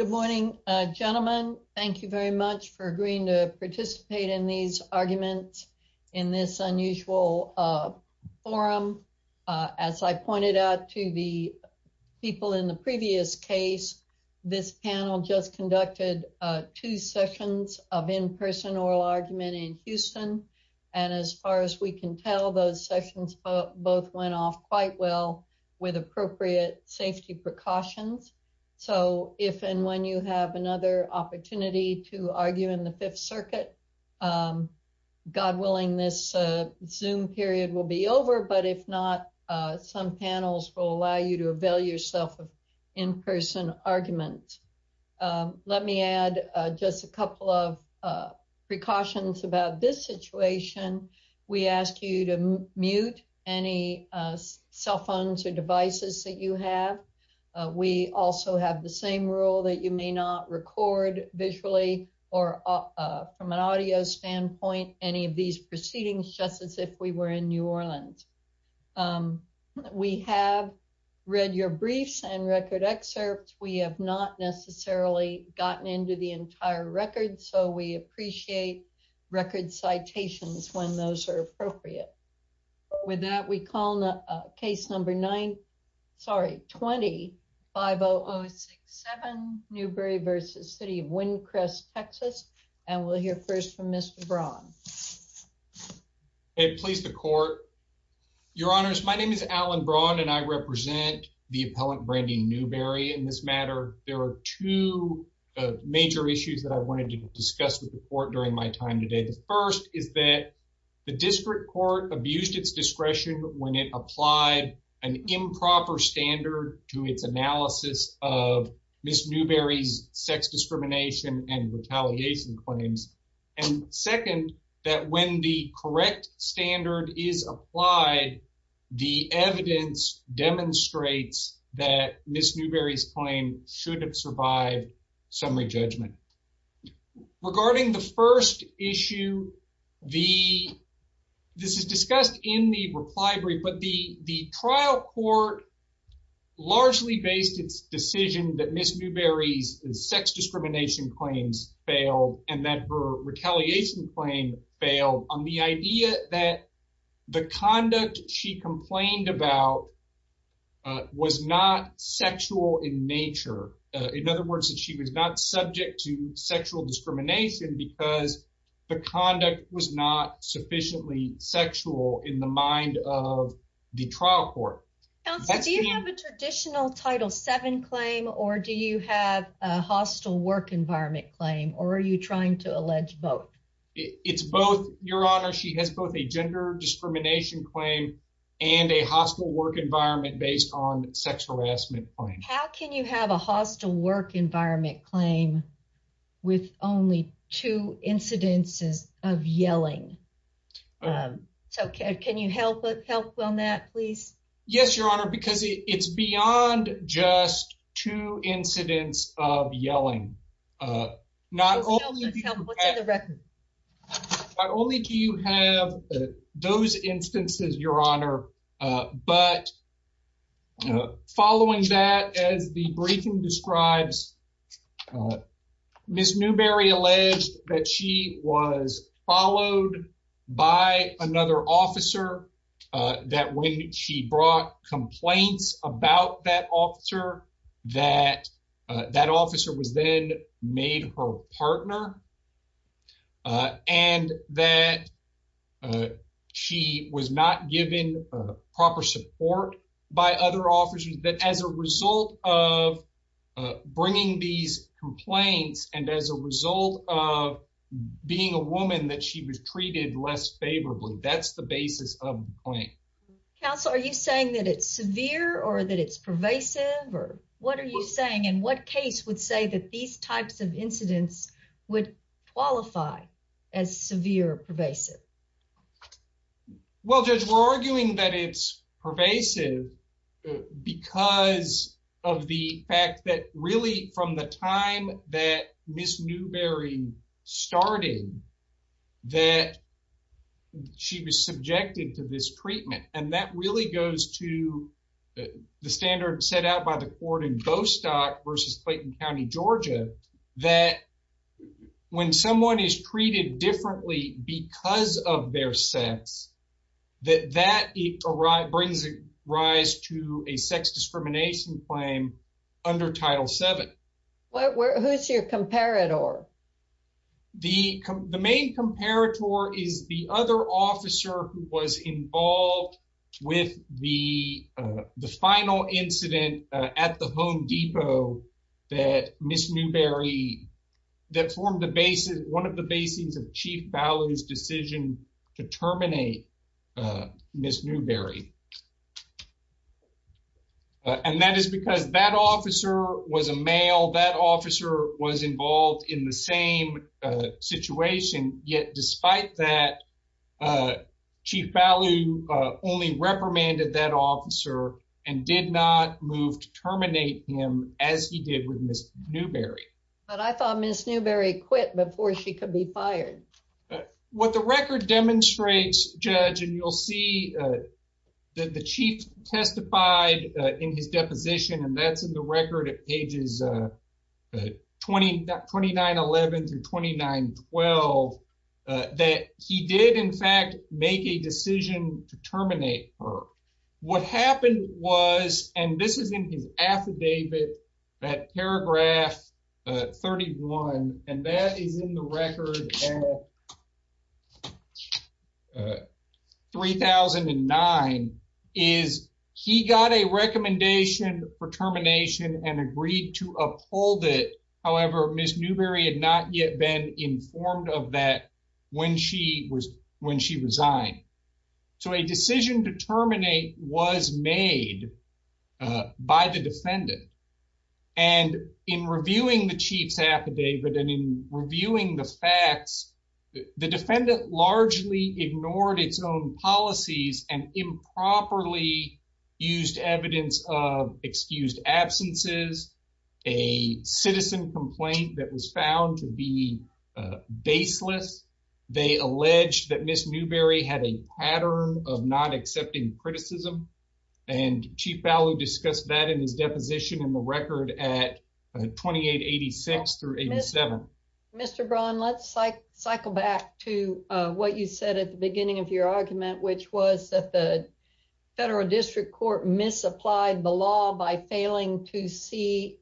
Good morning, gentlemen. Thank you very much for agreeing to participate in these arguments in this unusual forum. As I pointed out to the people in the previous case, this panel just conducted two sessions of in-person oral argument in Houston. And as far as we can tell, those sessions both went off quite well with appropriate safety precautions. So if and when you have another opportunity to argue in the Fifth Circuit, God willing, this Zoom period will be over. But if not, some panels will allow you to avail yourself of in-person argument. Let me add just a couple of precautions about this situation. We ask you to mute any cell phones or devices that you have. We also have the same rule that you may not record visually or from an audio standpoint any of these proceedings just as if we were in New Orleans. We have read your briefs and record excerpts. We have not necessarily gotten into the entire record, so we appreciate record citations when those are appropriate. With that, we call case number 20-50067, Newberry v. City of Windcrest, TX. And we'll hear first from Mr. Braun. Hey, please, the Court. Your Honors, my name is Alan Braun, and I represent the appellant Brandy Newberry in this matter. There are two major issues that I wanted to discuss with the Court during my time today. The first is that the District Court abused its discretion when it applied an improper standard to its analysis of Ms. Newberry's sex discrimination and retaliation claims. And second, that when the correct standard is applied, the evidence demonstrates that Ms. Newberry's claim should have survived summary judgment. Regarding the first issue, this is discussed in the reply brief, but the trial court largely based its decision that Ms. Newberry's sex discrimination claims failed and that her conduct was not sexual in nature. In other words, that she was not subject to sexual discrimination because the conduct was not sufficiently sexual in the mind of the trial court. Counsel, do you have a traditional Title VII claim, or do you have a hostile work environment claim, or are you trying to allege both? It's both, Your Honor. She has both a gender discrimination claim and a hostile work environment based on sex harassment claims. How can you have a hostile work environment claim with only two incidences of yelling? So can you help on that, please? Yes, Your Honor, because it's beyond just two incidents of yelling. What's in the record? Not only do you have those instances, Your Honor, but following that, as the briefing describes, Ms. Newberry alleged that she was followed by another officer, that when she brought complaints about that officer, that that officer was then made her partner, and that she was not given proper support by other officers, that as a result of bringing these complaints and as a result of being a woman, that she was treated less favorably. That's the basis of the claim. Counsel, are you saying that it's severe or that it's pervasive, or what are you saying? And what case would say that these types of incidents would qualify as severe or pervasive? Well, Judge, we're arguing that it's pervasive because of the fact that really from the time that Ms. Newberry started, that she was subjected to this treatment, and that really goes to the standard set out by the court in Gostock versus Clayton County, Georgia, that when someone is treated differently because of their sex, that that brings a rise to a sex discrimination claim under Title VII. Who's your comparator? The main comparator is the other officer who was involved with the final incident at the Home Depot that Ms. Newberry, that formed the basis, one of the basis of Chief Ballard's decision to terminate Ms. Newberry. And that is because that officer was a male, that officer was involved in the same situation, yet despite that, Chief Ballard only reprimanded that officer and did not move to terminate him as he did with Ms. Newberry. But I thought Ms. Newberry quit before she could be fired. What the record demonstrates, Judge, and you'll see that the Chief testified in his deposition, and that's in the record at pages 2911 through 2912, that he did, in fact, make a decision to terminate her. What happened was, and this is in his affidavit, that paragraph 31, and that is in the record at 3009, is he got a recommendation for termination and agreed to uphold it. However, Ms. Newberry had not yet been informed of that when she was when she resigned. So a decision to terminate was made by the defendant, and in reviewing the Chief's affidavit and in reviewing the facts, the defendant largely ignored its own policies and improperly used evidence of excused absences, a citizen complaint that was found to be baseless. They alleged that Ms. Newberry had a pattern of not accepting criticism, and Chief Ballew discussed that in his deposition in the record at 2886 through 87. Mr. Braun, let's cycle back to what you said at the beginning of your argument, which was that the federal district court misapplied the law by failing to see,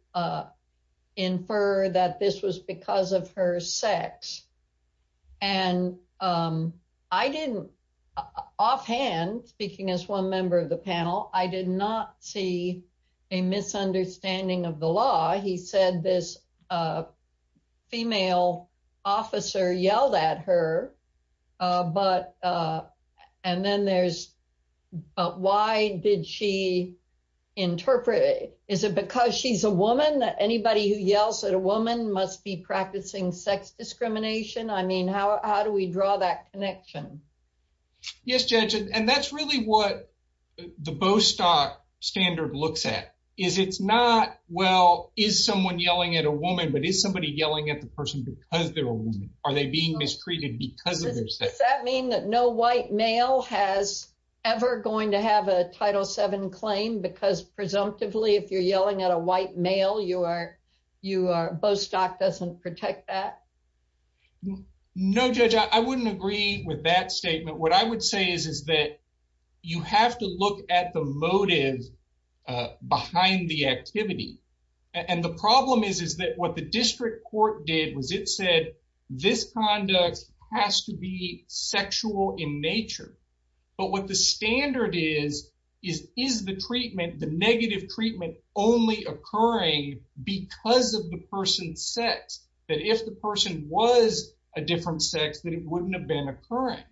infer that this was because of her sex. And I didn't, offhand, speaking as one member of the panel, I did not see a misunderstanding of the law. He said this female officer yelled at her, but and then there's why did she interpret it? Is it because she's a woman that anybody who yells at a woman must be practicing sex discrimination? I mean, how do we draw that connection? Yes, Judge, and that's really what the Bostock standard looks at, is it's not, well, is someone yelling at a woman, but is somebody yelling at the person because they're a woman? Are they being mistreated because of their sex? Does that mean that no white male has ever going to have a Title VII claim because presumptively, if you're yelling at a white male, you are, you are, Bostock doesn't protect that? No, Judge, I wouldn't agree with that statement. What I would say is, is that you have to look at the motive behind the activity. And the problem is, is that what the district court did was it said this conduct has to be sexual in nature. But what the standard is, is is the treatment, the negative treatment only occurring because of the person's sex, that if the person was a different sex, that it wouldn't have been occurring.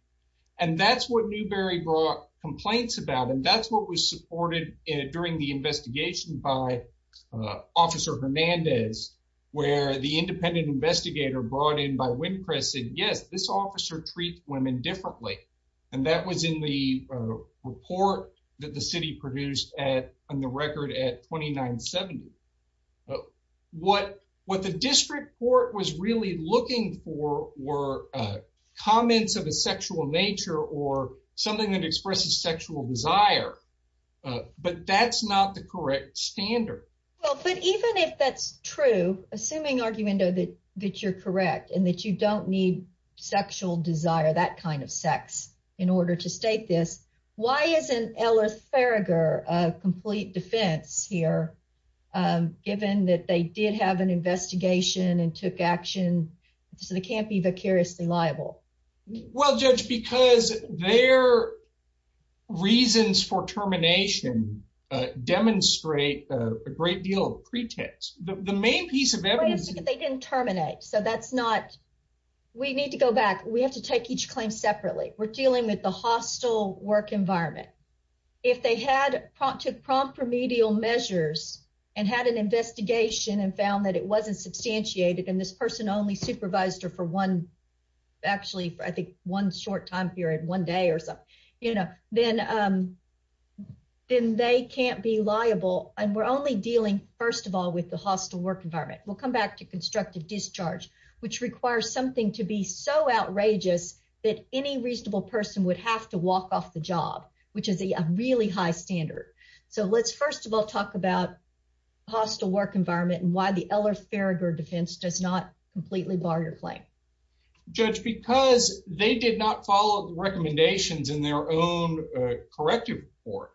And that's what Newberry brought complaints about. And that's what was supported during the investigation by Officer Hernandez, where the independent investigator brought in by Wynn Press said, yes, this officer treats women differently. And that was in the report that the city produced on the record at 2970. What what the district court was really looking for were comments of a sexual nature or something that expresses sexual desire. But that's not the correct standard. Well, but even if that's true, assuming, Arguendo, that that you're correct and that you don't need sexual desire, that kind of sex in order to state this, why isn't Ellis Farragher a complete defense here, given that they did have an investigation and took action, so they can't be vicariously liable? Well, Judge, because their reasons for termination demonstrate a great deal of pretext. The main piece of evidence. They didn't terminate. So that's not we need to go back. We have to take each claim separately. We're dealing with the hostile work environment. If they had to prompt remedial measures and had an investigation and found that it wasn't substantiated and this person only supervised her for one, actually, I think one short time period, one day or so, you know, then then they can't be liable. And we're only dealing, first of all, with the hostile work environment. We'll come back to constructive discharge, which requires something to be so outrageous that any reasonable person would have to walk off the job, which is a really high standard. So let's first of all, talk about hostile work environment and why the Ellis Farragher defense does not completely bar your claim. Judge, because they did not follow the recommendations in their own corrective report.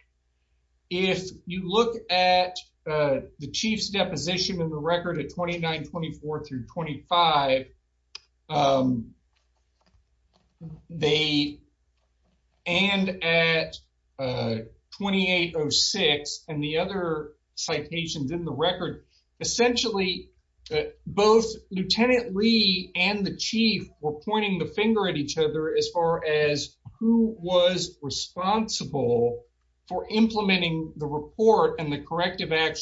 If you look at the chief's deposition in the record at twenty nine, twenty four through twenty five, they and at twenty eight or six and the other citations in the record, essentially both Lieutenant Lee and the chief were pointing the finger at each other as far as who was responsible for implementing the report and the corrective report.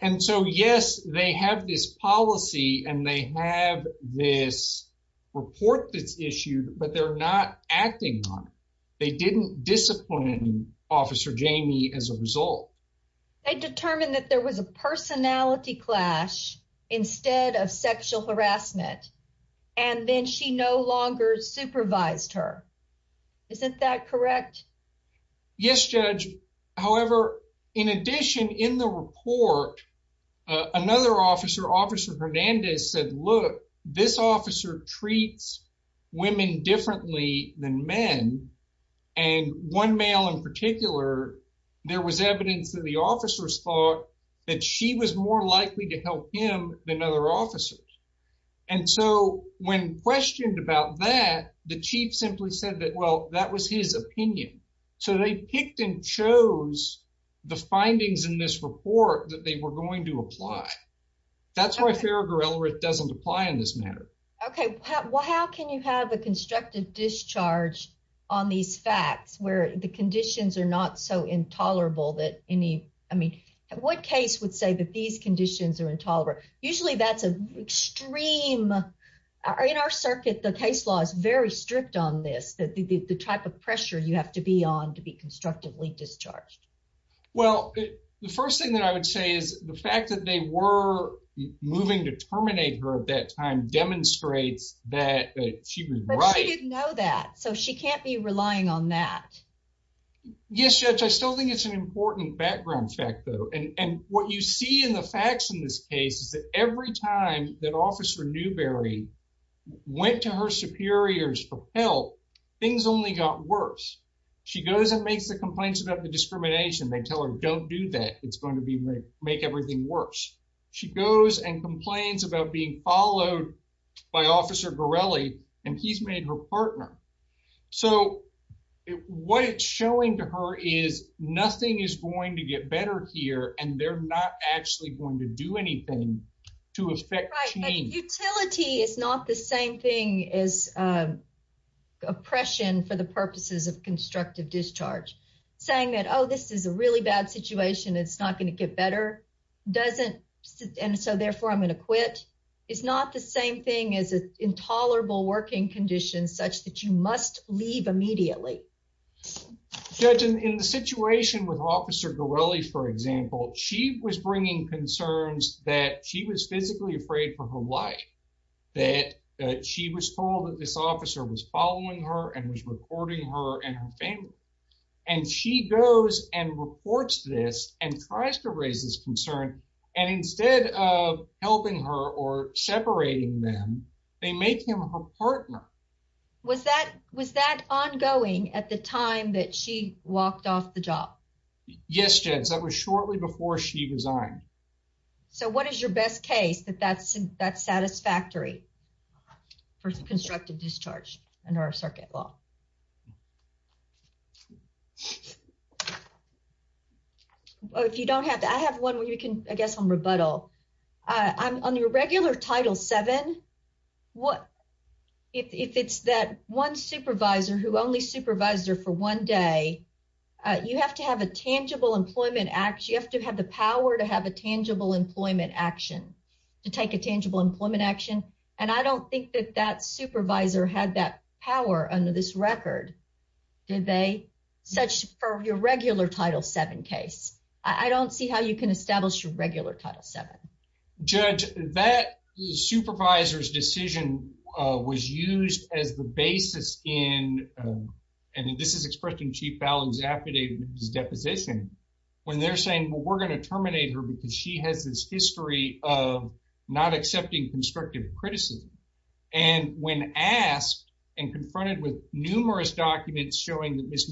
And so, yes, they have this policy and they have this report that's issued, but they're not acting on it. They didn't discipline Officer Jamie as a result. They determined that there was a personality clash instead of sexual harassment and then she no longer supervised her. Isn't that correct? Yes, judge. However, in addition, in the report, another officer, Officer Hernandez, said, look, this officer treats women differently than men. And one male in particular, there was evidence that the officers thought that she was more likely to help him than other officers. And so when questioned about that, the chief simply said that, well, that was his opinion. So they picked and chose the findings in this report that they were going to apply. That's why Farragher doesn't apply in this matter. OK, well, how can you have a constructive discharge on these facts where the conditions are not so intolerable that any I mean, what case would say that these conditions are tolerable? Usually that's an extreme in our circuit. The case law is very strict on this, that the type of pressure you have to be on to be constructively discharged. Well, the first thing that I would say is the fact that they were moving to terminate her at that time demonstrates that she was right. She didn't know that, so she can't be relying on that. Yes, judge, I still think it's an important background fact, though, and what you see in the facts in this case is that every time that Officer Newberry went to her superiors for help, things only got worse. She goes and makes the complaints about the discrimination. They tell her, don't do that. It's going to be make everything worse. She goes and complains about being followed by Officer Gorelli and he's made her partner. So what it's showing to her is nothing is going to get better here and they're not actually going to do anything to affect the team. Utility is not the same thing as oppression for the purposes of constructive discharge. Saying that, oh, this is a really bad situation, it's not going to get better, doesn't and so therefore I'm going to quit, is not the same thing as an intolerable working condition such that you must leave immediately. Judge, in the situation with Officer Gorelli, for example, she was bringing concerns that she was physically afraid for her life, that she was told that this officer was following her and was recording her and her family. And she goes and reports this and tries to raise this concern. And instead of helping her or separating them, they make him her partner. Was that was that ongoing at the time that she walked off the job? Yes, Judge, that was shortly before she resigned. So what is your best case that that's that's satisfactory for constructive discharge under our circuit law? If you don't have that, I have one where you can, I guess, on rebuttal on your regular Title seven, what if it's that one supervisor who only supervised her for one day, you have to have a tangible employment act. You have to have the power to have a tangible employment action to take a tangible employment action. And I don't think that that supervisor had that power under this record. Did they? Such for your regular Title seven case, I don't see how you can establish your regular Title seven. Judge, that supervisor's decision was used as the basis in and this is expressed in Chief Ballin's affidavit deposition when they're saying, well, we're going to terminate her because she has this history of not accepting constructive criticism. And when asked and confronted with numerous documents showing that Miss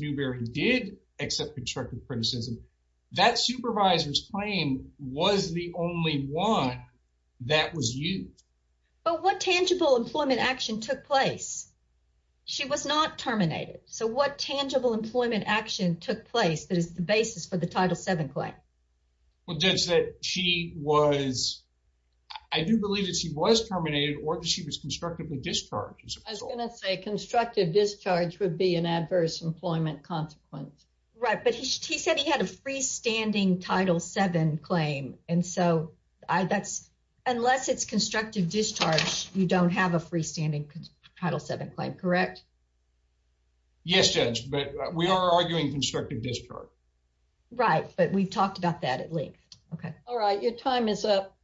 supervisor's claim was the only one that was used. But what tangible employment action took place? She was not terminated. So what tangible employment action took place that is the basis for the Title seven claim? Well, Judge, that she was I do believe that she was terminated or she was constructively discharged. I was going to say constructive discharge would be an adverse employment consequence. Right. But he said he had a freestanding Title seven claim. And so I that's unless it's constructive discharge, you don't have a freestanding Title seven claim, correct? Yes, Judge, but we are arguing constructive discharge. Right. But we've talked about that at length. OK, all right. Your time is up.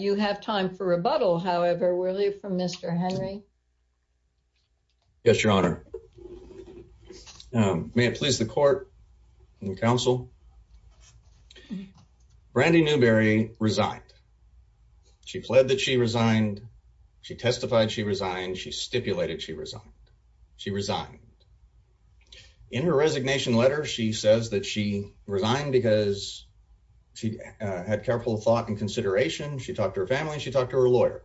You have time for rebuttal, however, will you from Mr. Henry? Yes, your honor. May it please the court and counsel. Brandy Newberry resigned. She pled that she resigned. She testified she resigned. She stipulated she resigned. She resigned in her resignation letter. She says that she resigned because she had careful thought and consideration. She talked to her family. She talked to her lawyer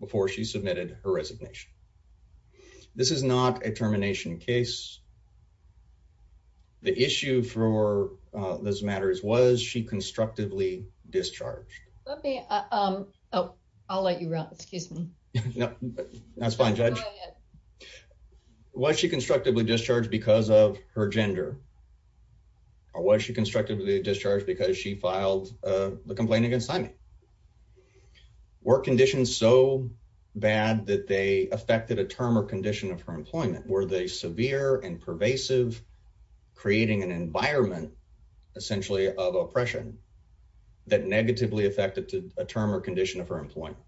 before she submitted her resignation. This is not a termination case. The issue for this matter is, was she constructively discharged? Oh, I'll let you run. Excuse me. No, that's fine, Judge. Was she constructively discharged because of her gender? Or was she constructively discharged because she filed the complaint against Simon? Were conditions so bad that they affected a term or condition of her creating an environment essentially of oppression that negatively affected a term or condition of her employment?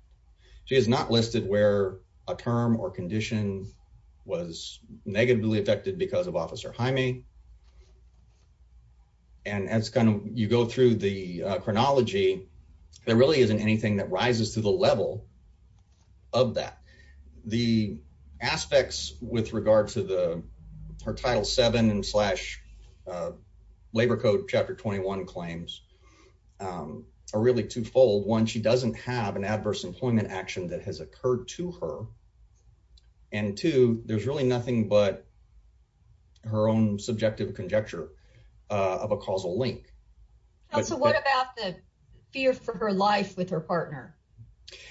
She is not listed where a term or condition was negatively affected because of Officer Jaime. And that's kind of you go through the chronology, there really isn't anything that rises to the level. Of that, the aspects with regard to the her title seven and slash labor code chapter 21 claims are really twofold. One, she doesn't have an adverse employment action that has occurred to her. And two, there's really nothing but. Her own subjective conjecture of a causal link. And so what about the fear for her life with her partner?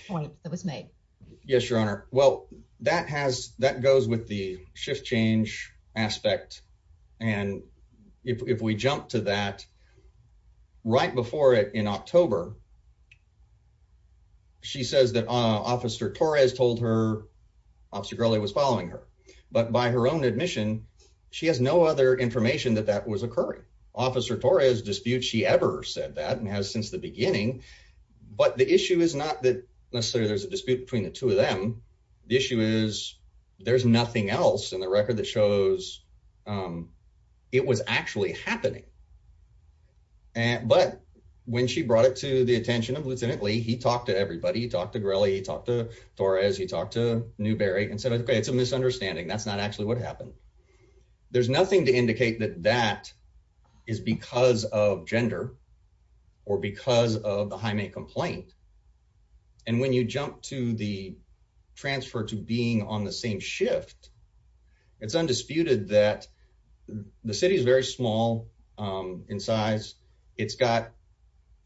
Point that was made. Yes, Your Honor. Well, that has that goes with the shift change aspect. And if we jump to that. Right before it in October. She says that Officer Torres told her Officer Gurley was following her, but by her own admission, she has no other information that that was occurring. Officer Torres dispute she ever said that and has since the beginning. But the issue is not that necessarily there's a dispute between the two of them. The issue is there's nothing else in the record that shows, um, it was actually happening. And, but when she brought it to the attention of Lieutenant Lee, he talked to everybody, he talked to Gurley, he talked to Torres, he talked to Newberry and said, okay, it's a misunderstanding. That's not actually what happened. There's nothing to indicate that that is because of gender or because of the Jaime complaint. And when you jump to the transfer to being on the same shift, it's undisputed that the city is very small. Um, in size it's got,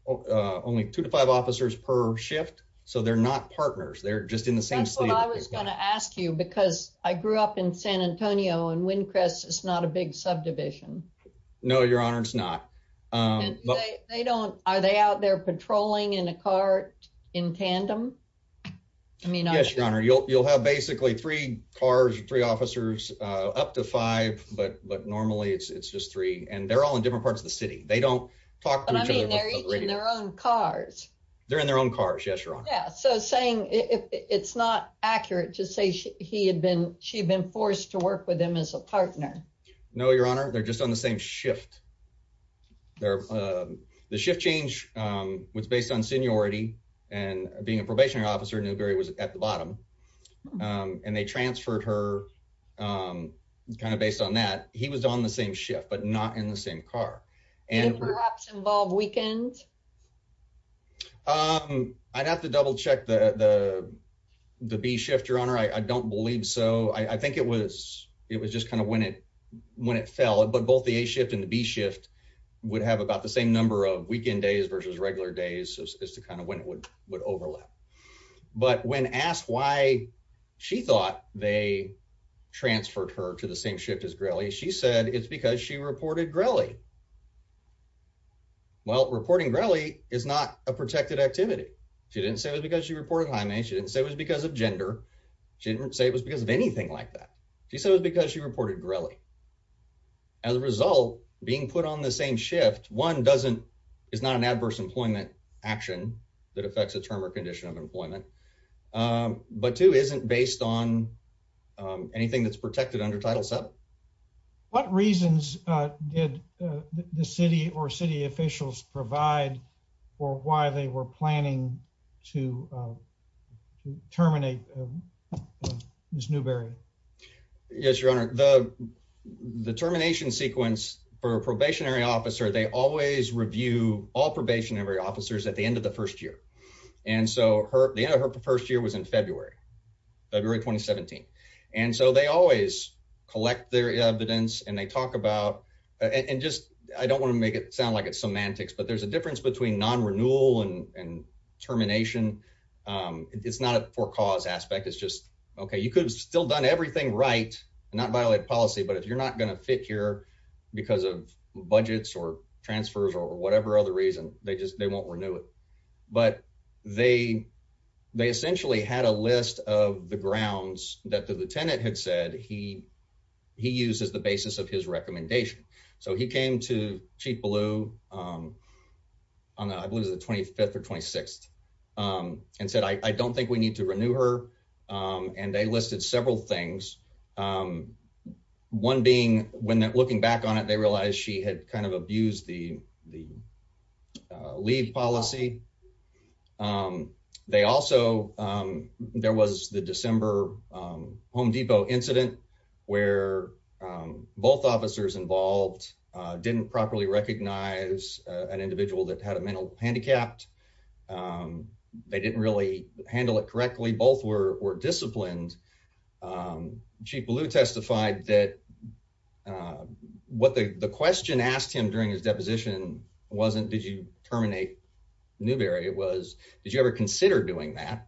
uh, only two to five officers per shift. So they're not partners. They're just in the same state. I was going to ask you, because I grew up in San Antonio and Windcrest is not a big subdivision. No, Your Honor. It's not. Um, they don't, are they out there patrolling in a cart in tandem? I mean, you'll, you'll have basically three cars, three officers, uh, up to five, but, but normally it's, it's just three and they're all in different parts of the city. They don't talk to their own cars. They're in their own cars. Yes, Your Honor. Yeah. So saying it's not accurate to say he had been, she'd been forced to work with him as a partner. No, Your Honor. They're just on the same shift. They're, uh, the shift change, um, was based on seniority and being a probationary officer, Newberry was at the bottom. Um, and they transferred her, um, kind of based on that he was on the same shift, but not in the same car. And perhaps involved weekend. Um, I'd have to double check the, the, the B shift, Your Honor. I don't believe so. I think it was, it was just kind of when it, when it fell, but both the A shift and the B shift would have about the same number of weekend days versus regular days as to kind of when it would, would overlap, but when asked why she thought they transferred her to the same shift as Grelly, she said it's because she reported Grelly. Well, reporting Grelly is not a protected activity. She didn't say it was because she reported Jaime. She didn't say it was because of gender. She didn't say it was because of anything like that. She said it was because she reported Grelly. As a result, being put on the same shift, one doesn't, is not an adverse employment action that affects a term or condition of employment. Um, but two isn't based on, um, anything that's protected under title seven. What reasons, uh, did, uh, the city or city officials provide or why they were planning to, uh, to terminate, uh, Ms. Newberry? Yes, Your Honor. The, the termination sequence for a probationary officer, they always review all probationary officers at the end of the first year. And so her, the end of her first year was in February, February, 2017. And so they always collect their evidence and they talk about, uh, and just, I don't want to make it sound like it's semantics, but there's a difference between non-renewal and termination. Um, it's not a for-cause aspect. It's just, okay, you could have still done everything right and not violate policy, but if you're not going to fit here because of budgets or transfers or whatever other reason, they just, they won't renew it, but they, they that the Lieutenant had said he, he used as the basis of his recommendation. So he came to Chief Ballew, um, on, I believe it was the 25th or 26th. Um, and said, I don't think we need to renew her. Um, and they listed several things. Um, one being when that looking back on it, they realized she had kind of abused the, the, uh, leave policy. Um, they also, um, there was the December, um, Home Depot incident where, um, both officers involved, uh, didn't properly recognize, uh, an individual that had a mental handicapped. Um, they didn't really handle it correctly. Both were, were disciplined. Um, Chief Ballew testified that, uh, what the, the question asked him during his deposition wasn't, did you terminate Newberry? It was, did you ever consider doing that?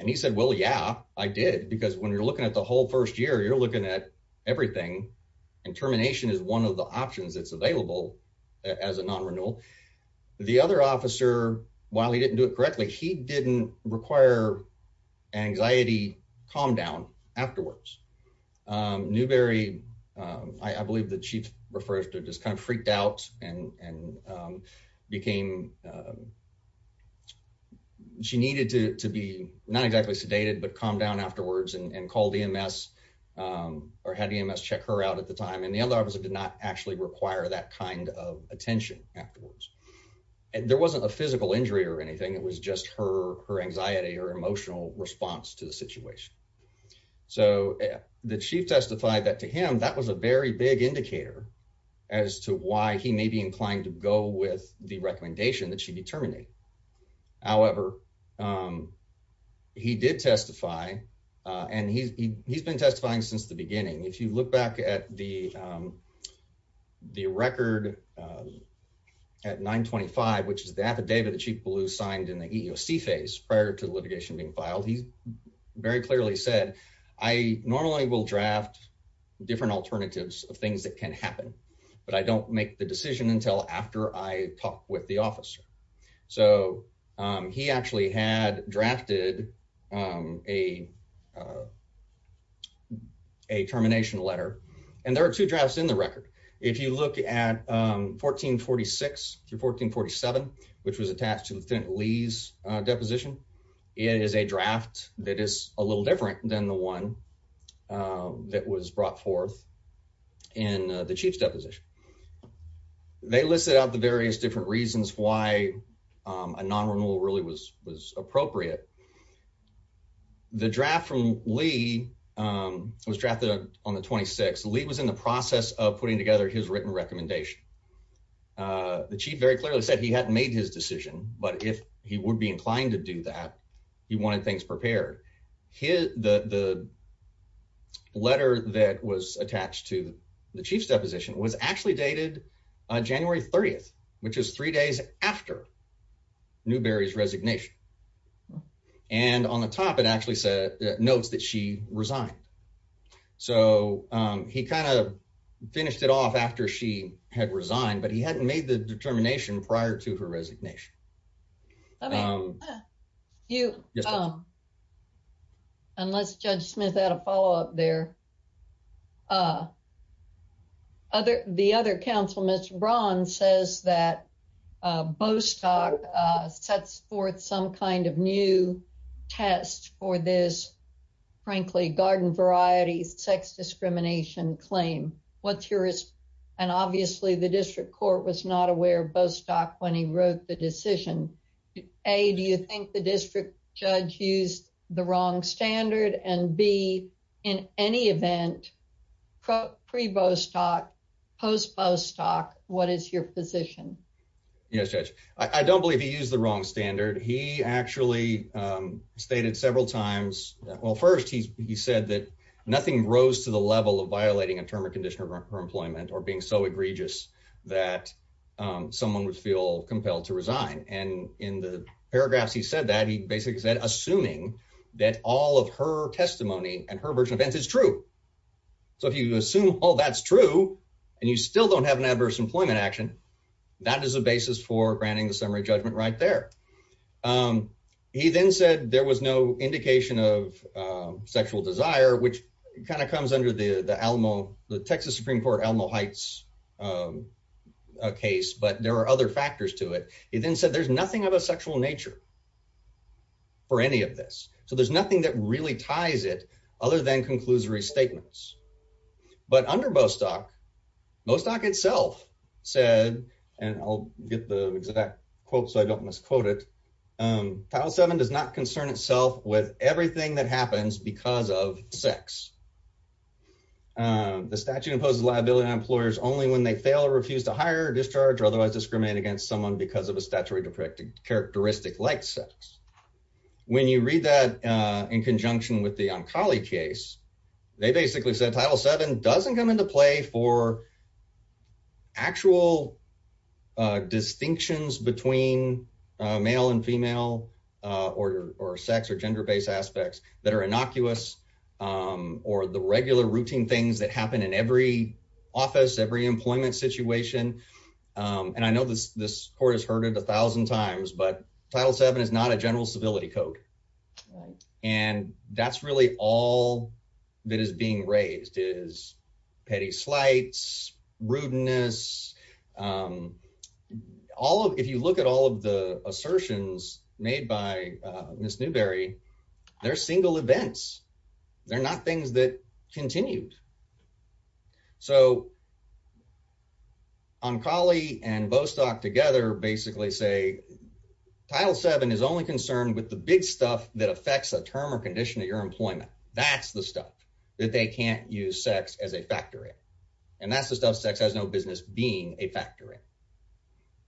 And he said, well, yeah, I did. Because when you're looking at the whole first year, you're looking at everything and termination is one of the options that's available as a non-renewal. The other officer, while he didn't do it correctly, he didn't require anxiety, calm down afterwards. Um, Newberry, um, I believe the chief refers to just kind of freaked out and, and, um, became, um, she needed to, to be not exactly sedated, but calm down afterwards and called EMS, um, or had EMS check her out at the time. And the other officer did not actually require that kind of attention afterwards. And there wasn't a physical injury or anything. It was just her, her anxiety or emotional response to the situation. So the chief testified that to him, that was a very big indicator as to why he may be inclined to go with the recommendation that she be terminated. However, um, he did testify, uh, and he's, he, he's been testifying since the beginning. If you look back at the, um, the record, um, at nine 25, which is the affidavit that she blew signed in the EEOC phase prior to the litigation being filed, he very clearly said, I normally will draft different alternatives of things that can happen, but I don't make the decision until after I talk with the officer. So, um, he actually had drafted, um, a, uh, a termination letter. And there are two drafts in the record. If you look at, um, 1446 through 1447, which was attached to the Lee's, uh, deposition is a draft that is a little different than the one, um, that was brought forth in the chief's deposition. They listed out the various different reasons why, um, a non-renewal really was, was appropriate. The draft from Lee, um, was drafted on the 26th. Lee was in the process of putting together his written recommendation. Uh, the chief very clearly said he hadn't made his decision, but if he would be inclined to do that, he wanted things prepared. His, the, the letter that was attached to the chief's deposition was actually dated, uh, January 30th, which is three days after Newberry's resignation. And on the top, it actually said notes that she resigned. So, um, he kind of finished it off after she had resigned, but he hadn't made the determination prior to her resignation. Um, you, um, unless judge Smith had a follow up there, uh, other, the other council, Mr. Braun says that, uh, Bostock, uh, sets forth some kind of new test for this, frankly, garden varieties, sex discrimination claim. What's your, and obviously the district court was not aware of Bostock when he wrote the decision. A, do you think the district judge used the wrong standard? And B, in any event, pre-Bostock, post-Bostock, what is your position? Yes, judge. I don't believe he used the wrong standard. He actually, um, stated several times. Well, first he's, he said that nothing rose to the level of violating a term or condition of her employment or being so egregious that, um, someone would feel compelled to resign. And in the paragraphs, he said that he basically said, assuming that all of her testimony and her version of events is true, so if you assume all that's true and you still don't have an adverse employment action, that is a basis for granting the summary judgment right there. Um, he then said there was no indication of, um, sexual desire, which kind of comes under the, the Alamo, the Texas Supreme court, Alamo Heights, um, uh, case, but there are other factors to it. He then said, there's nothing of a sexual nature for any of this. So there's nothing that really ties it other than conclusory statements. But under Bostock, Bostock itself said, and I'll get the exact quote, so I don't misquote it. Um, title seven does not concern itself with everything that happens because of sex. Um, the statute imposes liability on employers only when they fail or refuse to hire or discharge or otherwise discriminate against someone because of a statutory deprecating characteristic like sex, when you read that, uh, in conjunction with the Oncology case, they basically said title seven doesn't come into play for actual, uh, distinctions between a male and female, uh, or, or sex or gender-based aspects that are innocuous, um, or the regular routine things that happen in every office, every employment situation. Um, and I know this, this court has heard it a thousand times, but title seven is not a general civility code. Right. And that's really all that is being raised is petty slights, rudeness. Um, all of, if you look at all of the assertions made by, uh, Ms. Newberry, they're single events. They're not things that continued. So Oncology and Bostock together basically say title seven is only concerned with the big stuff that affects a term or condition of your employment, that's the stuff that they can't use sex as a factor in. And that's the stuff sex has no business being a factor in.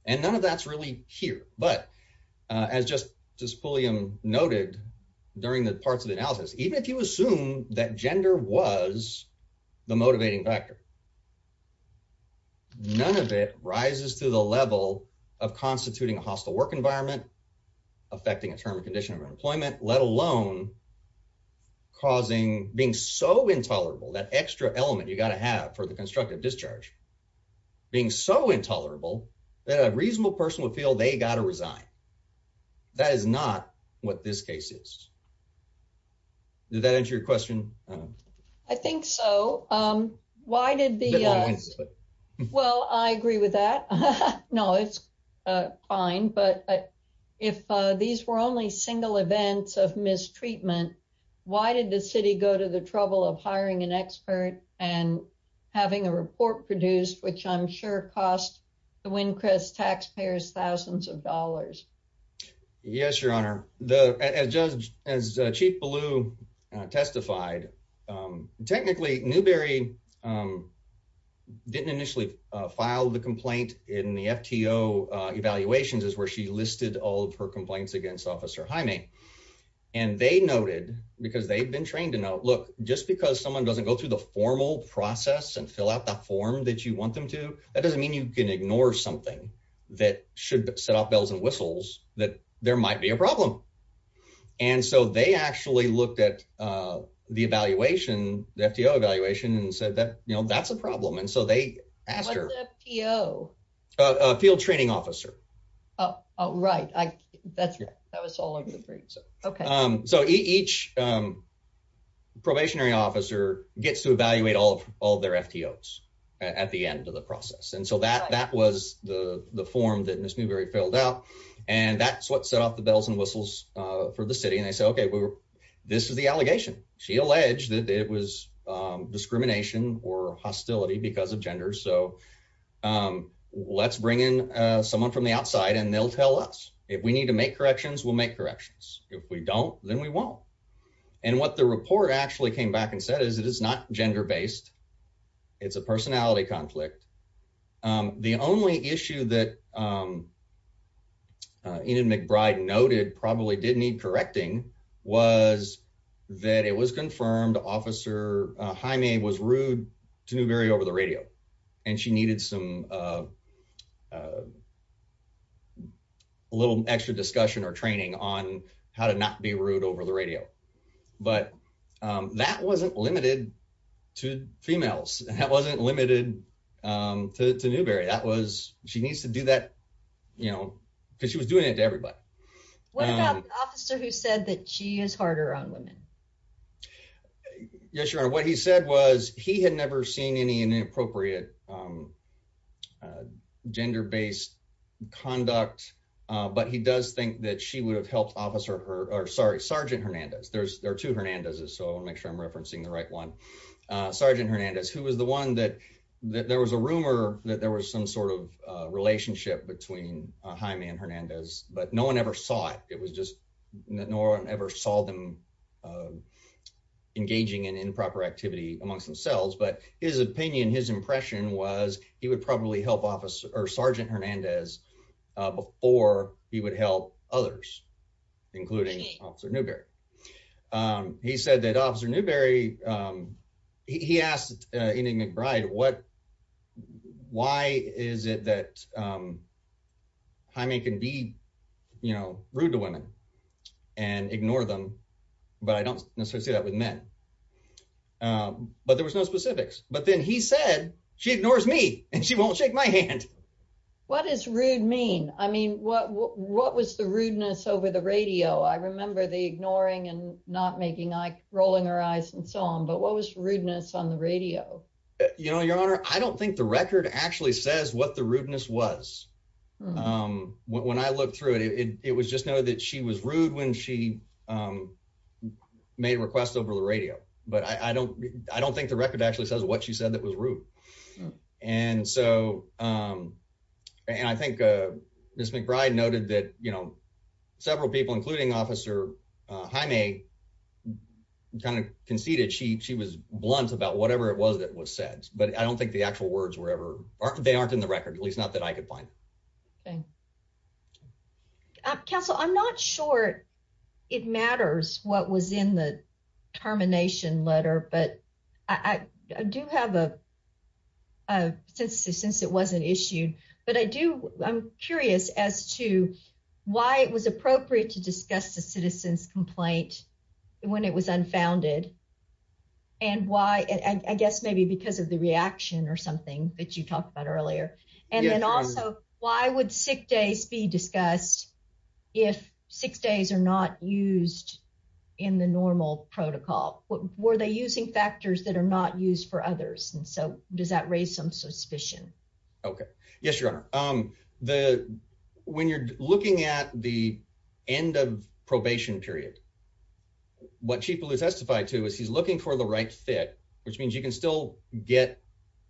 And none of that's really here, but, uh, as just, just fully, um, noted during the parts of the analysis, even if you assume that gender was the motivating factor, none of it rises to the level of constituting a hostile work environment, affecting a term or condition of employment, let alone causing being so intolerable, that extra element you got to have for the constructive discharge being so intolerable that a reasonable person would feel they got to resign. That is not what this case is. Did that answer your question? I think so. Um, why did the, well, I agree with that. No, it's, uh, fine. But if, uh, these were only single events of mistreatment, why did the city go to the trouble of hiring an expert and having a report produced, which I'm sure cost the Wincrest taxpayers thousands of dollars? Yes, Your Honor. The, as Judge, as Chief Ballew testified, um, technically Newberry, um, didn't initially, uh, filed the complaint in the FTO, uh, evaluations is where she listed all of her complaints against officer Jaime and they noted because they've been trained to note, look, just because someone doesn't go through the formal process and fill out the form that you want them to, that doesn't mean you can ignore something that should set off bells and whistles that there might be a problem. And so they actually looked at, uh, the evaluation, the FTO evaluation and said that, you know, that's a problem. And so they asked her, uh, field training officer. Oh, right. I that's right. That was all over the place. Okay. Um, so each, um, probationary officer gets to evaluate all of all their FTOs at the end of the process. And so that, that was the form that Ms. Newberry filled out and that's what set off the bells and whistles, uh, for the city and they say, okay, well, this is the allegation she alleged that it was, um, discrimination or hostility because of gender. So, um, let's bring in, uh, someone from the outside and they'll tell us if we need to make corrections, we'll make corrections. If we don't, then we won't. And what the report actually came back and said is it is not gender based. It's a personality conflict. Um, the only issue that, um, uh, Enid McBride noted probably didn't need was that it was confirmed officer, uh, Jaime was rude to Newberry over the radio and she needed some, uh, uh, a little extra discussion or training on how to not be rude over the radio. But, um, that wasn't limited to females. That wasn't limited, um, to, to Newberry. That was, she needs to do that, you know, cause she was doing it to everybody. What about the officer who said that she is harder on women? Yes, Your Honor. What he said was he had never seen any inappropriate, um, uh, gender based conduct, uh, but he does think that she would have helped officer her, or sorry, Sergeant Hernandez. There's there are two Hernandez's. So I'll make sure I'm referencing the right one. Uh, Sergeant Hernandez, who was the one that, that there was a rumor that there was some sort of a relationship between Jaime and Hernandez, but no one ever saw it, it was just that no one ever saw them, um, engaging in improper activity amongst themselves. But his opinion, his impression was he would probably help officer or Sergeant Hernandez, uh, before he would help others, including officer Newberry. Um, he said that officer Newberry, um, he asked, uh, Amy McBride, what, why is it that, um, Jaime can be, you know, rude to women and ignore them, but I don't necessarily see that with men. Um, but there was no specifics, but then he said she ignores me and she won't shake my hand. What does rude mean? I mean, what, what, what was the rudeness over the radio? I remember the ignoring and not making eye rolling her eyes and so on, but what was rudeness on the radio? You know, your honor, I don't think the record actually says what the rudeness was, um, when I looked through it, it was just noted that she was rude when she, um, made requests over the radio, but I don't, I don't think the record actually says what she said that was rude. And so, um, and I think, uh, Ms. McBride noted that, you know, several people, including officer, uh, Jaime kind of conceded she, she was blunt about whatever it was that was said, but I don't think the actual words were ever, they aren't in the record. At least not that I could find. Okay. Counsel, I'm not sure it matters what was in the termination letter, but I do have a, uh, since, since it wasn't issued, but I do, I'm curious as to why it was appropriate to discuss the citizens complaint when it was unfounded and why, I guess maybe because of the reaction or something that you talked about earlier, and then also why would sick days be discussed if six days are not used in the normal protocol? What were they using factors that are not used for others? And so does that raise some suspicion? Okay. Yes, your honor. The, when you're looking at the end of probation period, what chief blue testified to is he's looking for the right fit, which means you can still get,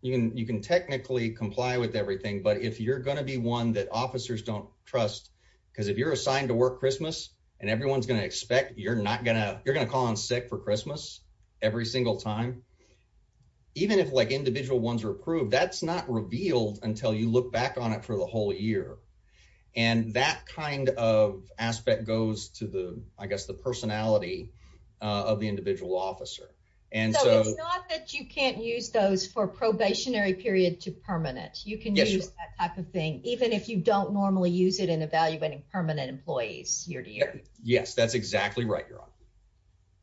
you can, you can technically comply with everything, but if you're going to be one that officers don't trust, because if you're assigned to work Christmas and everyone's going to expect, you're not gonna, you're going to call on sick for Christmas every single time, even if like individual ones are approved, that's not revealed until you look back on it for the whole year. And that kind of aspect goes to the, I guess, the personality, uh, of the individual officer. And so that you can't use those for probationary period to permanent, you can use that type of thing, even if you don't normally use it in evaluating permanent employees year to year. Yes, that's exactly right. You're on.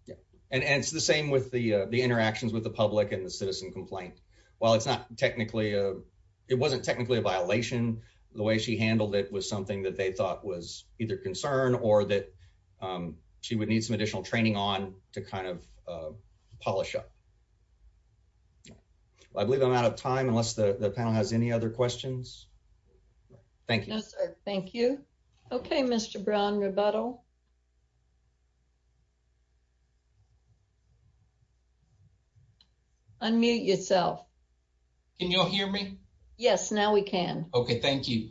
Yeah. And it's the same with the, uh, the interactions with the public and the technically, uh, it wasn't technically a violation. The way she handled it was something that they thought was either concern or that, um, she would need some additional training on to kind of, uh, polish up. I believe I'm out of time unless the panel has any other questions. Thank you. Thank you. Okay. Mr. Brown rebuttal. Unmute yourself. Can y'all hear me? Yes. Now we can. Okay. Thank you.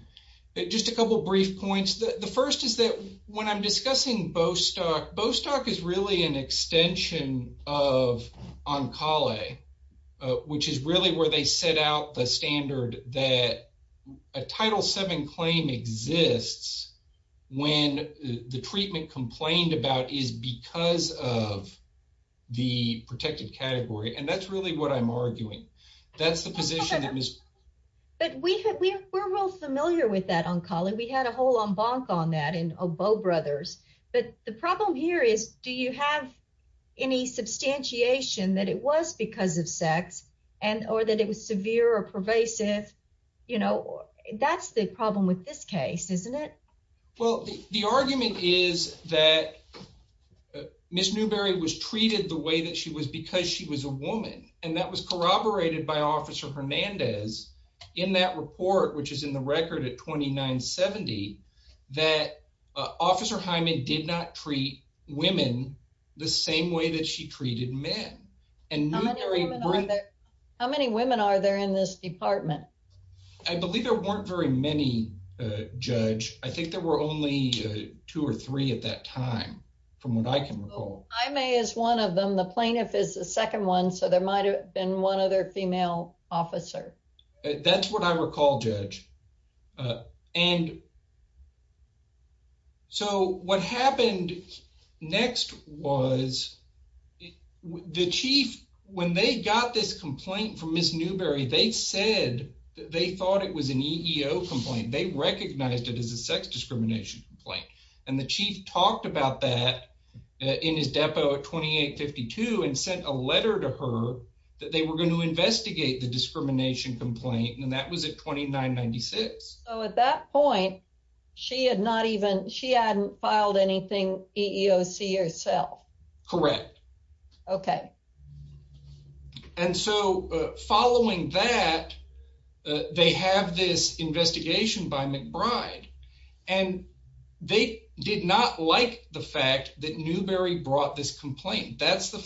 Just a couple of brief points. The first is that when I'm discussing Bostock, Bostock is really an extension of on-call a, uh, which is really where they set out the standard that a title seven claim exists when the treatment complained about is because of the protected category. And that's really what I'm arguing. That's the position that is. But we have, we were real familiar with that on-call and we had a whole en banc on that in Oboe brothers. But the problem here is, do you have any substantiation that it was because of sex and, or that it was severe or pervasive, you know, that's the problem with this case, isn't it? Well, the argument is that Ms. Newberry was treated the way that she was because she was a woman and that was corroborated by officer Hernandez in that report, which is in the record at 2970, that, uh, officer Hyman did not treat women the same way that she treated men and how many women are there in this department? I believe there weren't very many, uh, judge. I think there were only two or three at that time from what I can recall. I may as one of them, the plaintiff is the second one. So there might've been one other female officer. That's what I recall, judge. Uh, and so what happened next was the chief, when they got this complaint from Ms. Newberry, they said that they thought it was an EEO complaint. They recognized it as a sex discrimination complaint. And the chief talked about that in his depot at 2852 and sent a letter to her that they were going to investigate the discrimination complaint and that was at 2996. So at that point, she had not even, she hadn't filed anything EEOC herself. Correct. Okay. And so, uh, following that, uh, they have this investigation by McBride and they did not like the fact that Newberry brought this complaint, that's the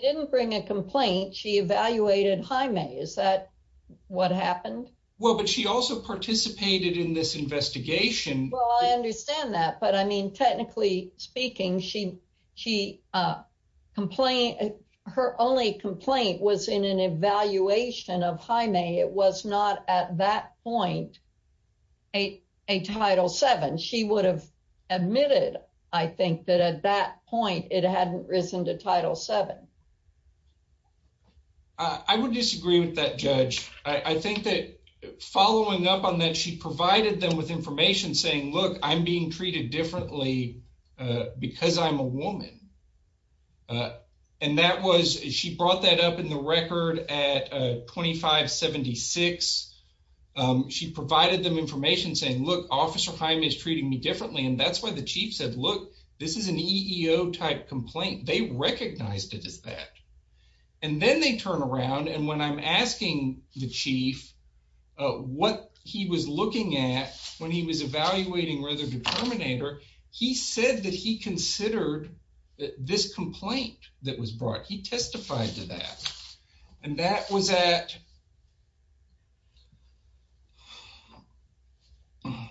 didn't bring a complaint. She evaluated Jaime. Is that what happened? Well, but she also participated in this investigation. Well, I understand that, but I mean, technically speaking, she, she, uh, complain, her only complaint was in an evaluation of Jaime. It was not at that point, a, a title seven. She would have admitted, I think that at that point it hadn't risen to title seven. I would disagree with that judge. I think that following up on that, she provided them with information saying, look, I'm being treated differently, uh, because I'm a woman. Uh, and that was, she brought that up in the record at, uh, 2576. Um, she provided them information saying, look, officer Jaime is treating me they recognized it as that. And then they turn around. And when I'm asking the chief, uh, what he was looking at when he was evaluating Rutherford Terminator, he said that he considered this complaint that was brought, he testified to that, and that was at. I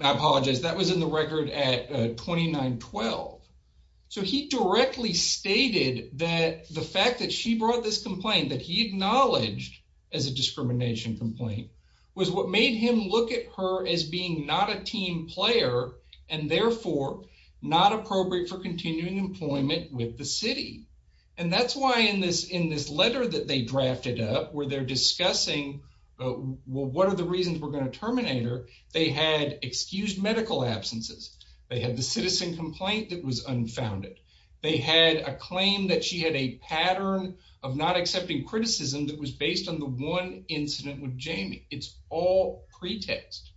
apologize. That was in the record at, uh, 2912. So he directly stated that the fact that she brought this complaint that he acknowledged as a discrimination complaint was what made him look at her as being not a team player and therefore not appropriate for continuing employment with the city. And that's why in this, in this letter that they drafted up where they're discussing, uh, well, what are the reasons we're going to terminate her? They had excused medical absences. They had the citizen complaint that was unfounded. They had a claim that she had a pattern of not accepting criticism that was based on the one incident with Jamie. It's all pretext.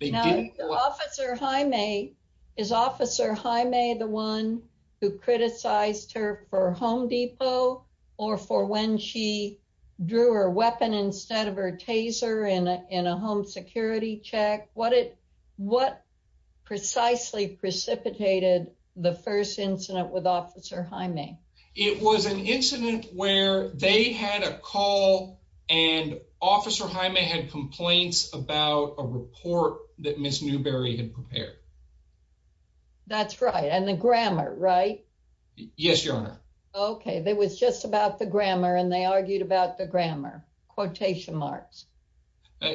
They didn't. Officer Jaime, is officer Jaime the one who criticized her for home depot or for when she drew her weapon instead of her taser in a, in a home security check, what it, what precisely precipitated the first incident with officer Jaime? It was an incident where they had a call and officer Jaime had complaints about a report that Ms. Newberry had prepared. That's right. And the grammar, right? Yes, your honor. Okay. There was just about the grammar and they argued about the grammar, quotation marks.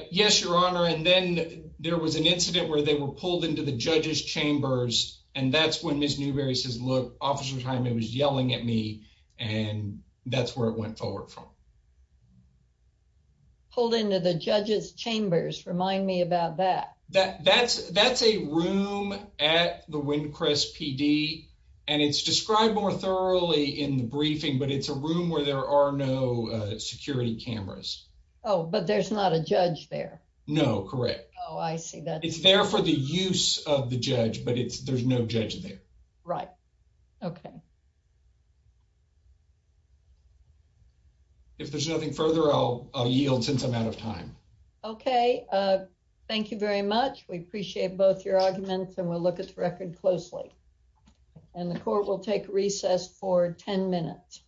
Yes, your honor. And then there was an incident where they were pulled into the judge's chambers and that's when Ms. Newberry says, look, officer Jaime was yelling at me and that's where it went forward from. Pulled into the judge's chambers. Remind me about that. That, that's, that's a room at the Windcrest PD and it's described more thoroughly in the briefing, but it's a room where there are no security cameras. Oh, but there's not a judge there. No, correct. Oh, I see that. It's there for the use of the judge, but it's, there's no judge there. Right. Okay. If there's nothing further, I'll yield since I'm out of time. Okay. Uh, thank you very much. We appreciate both your arguments and we'll look at the record closely and the court will take recess for 10 minutes.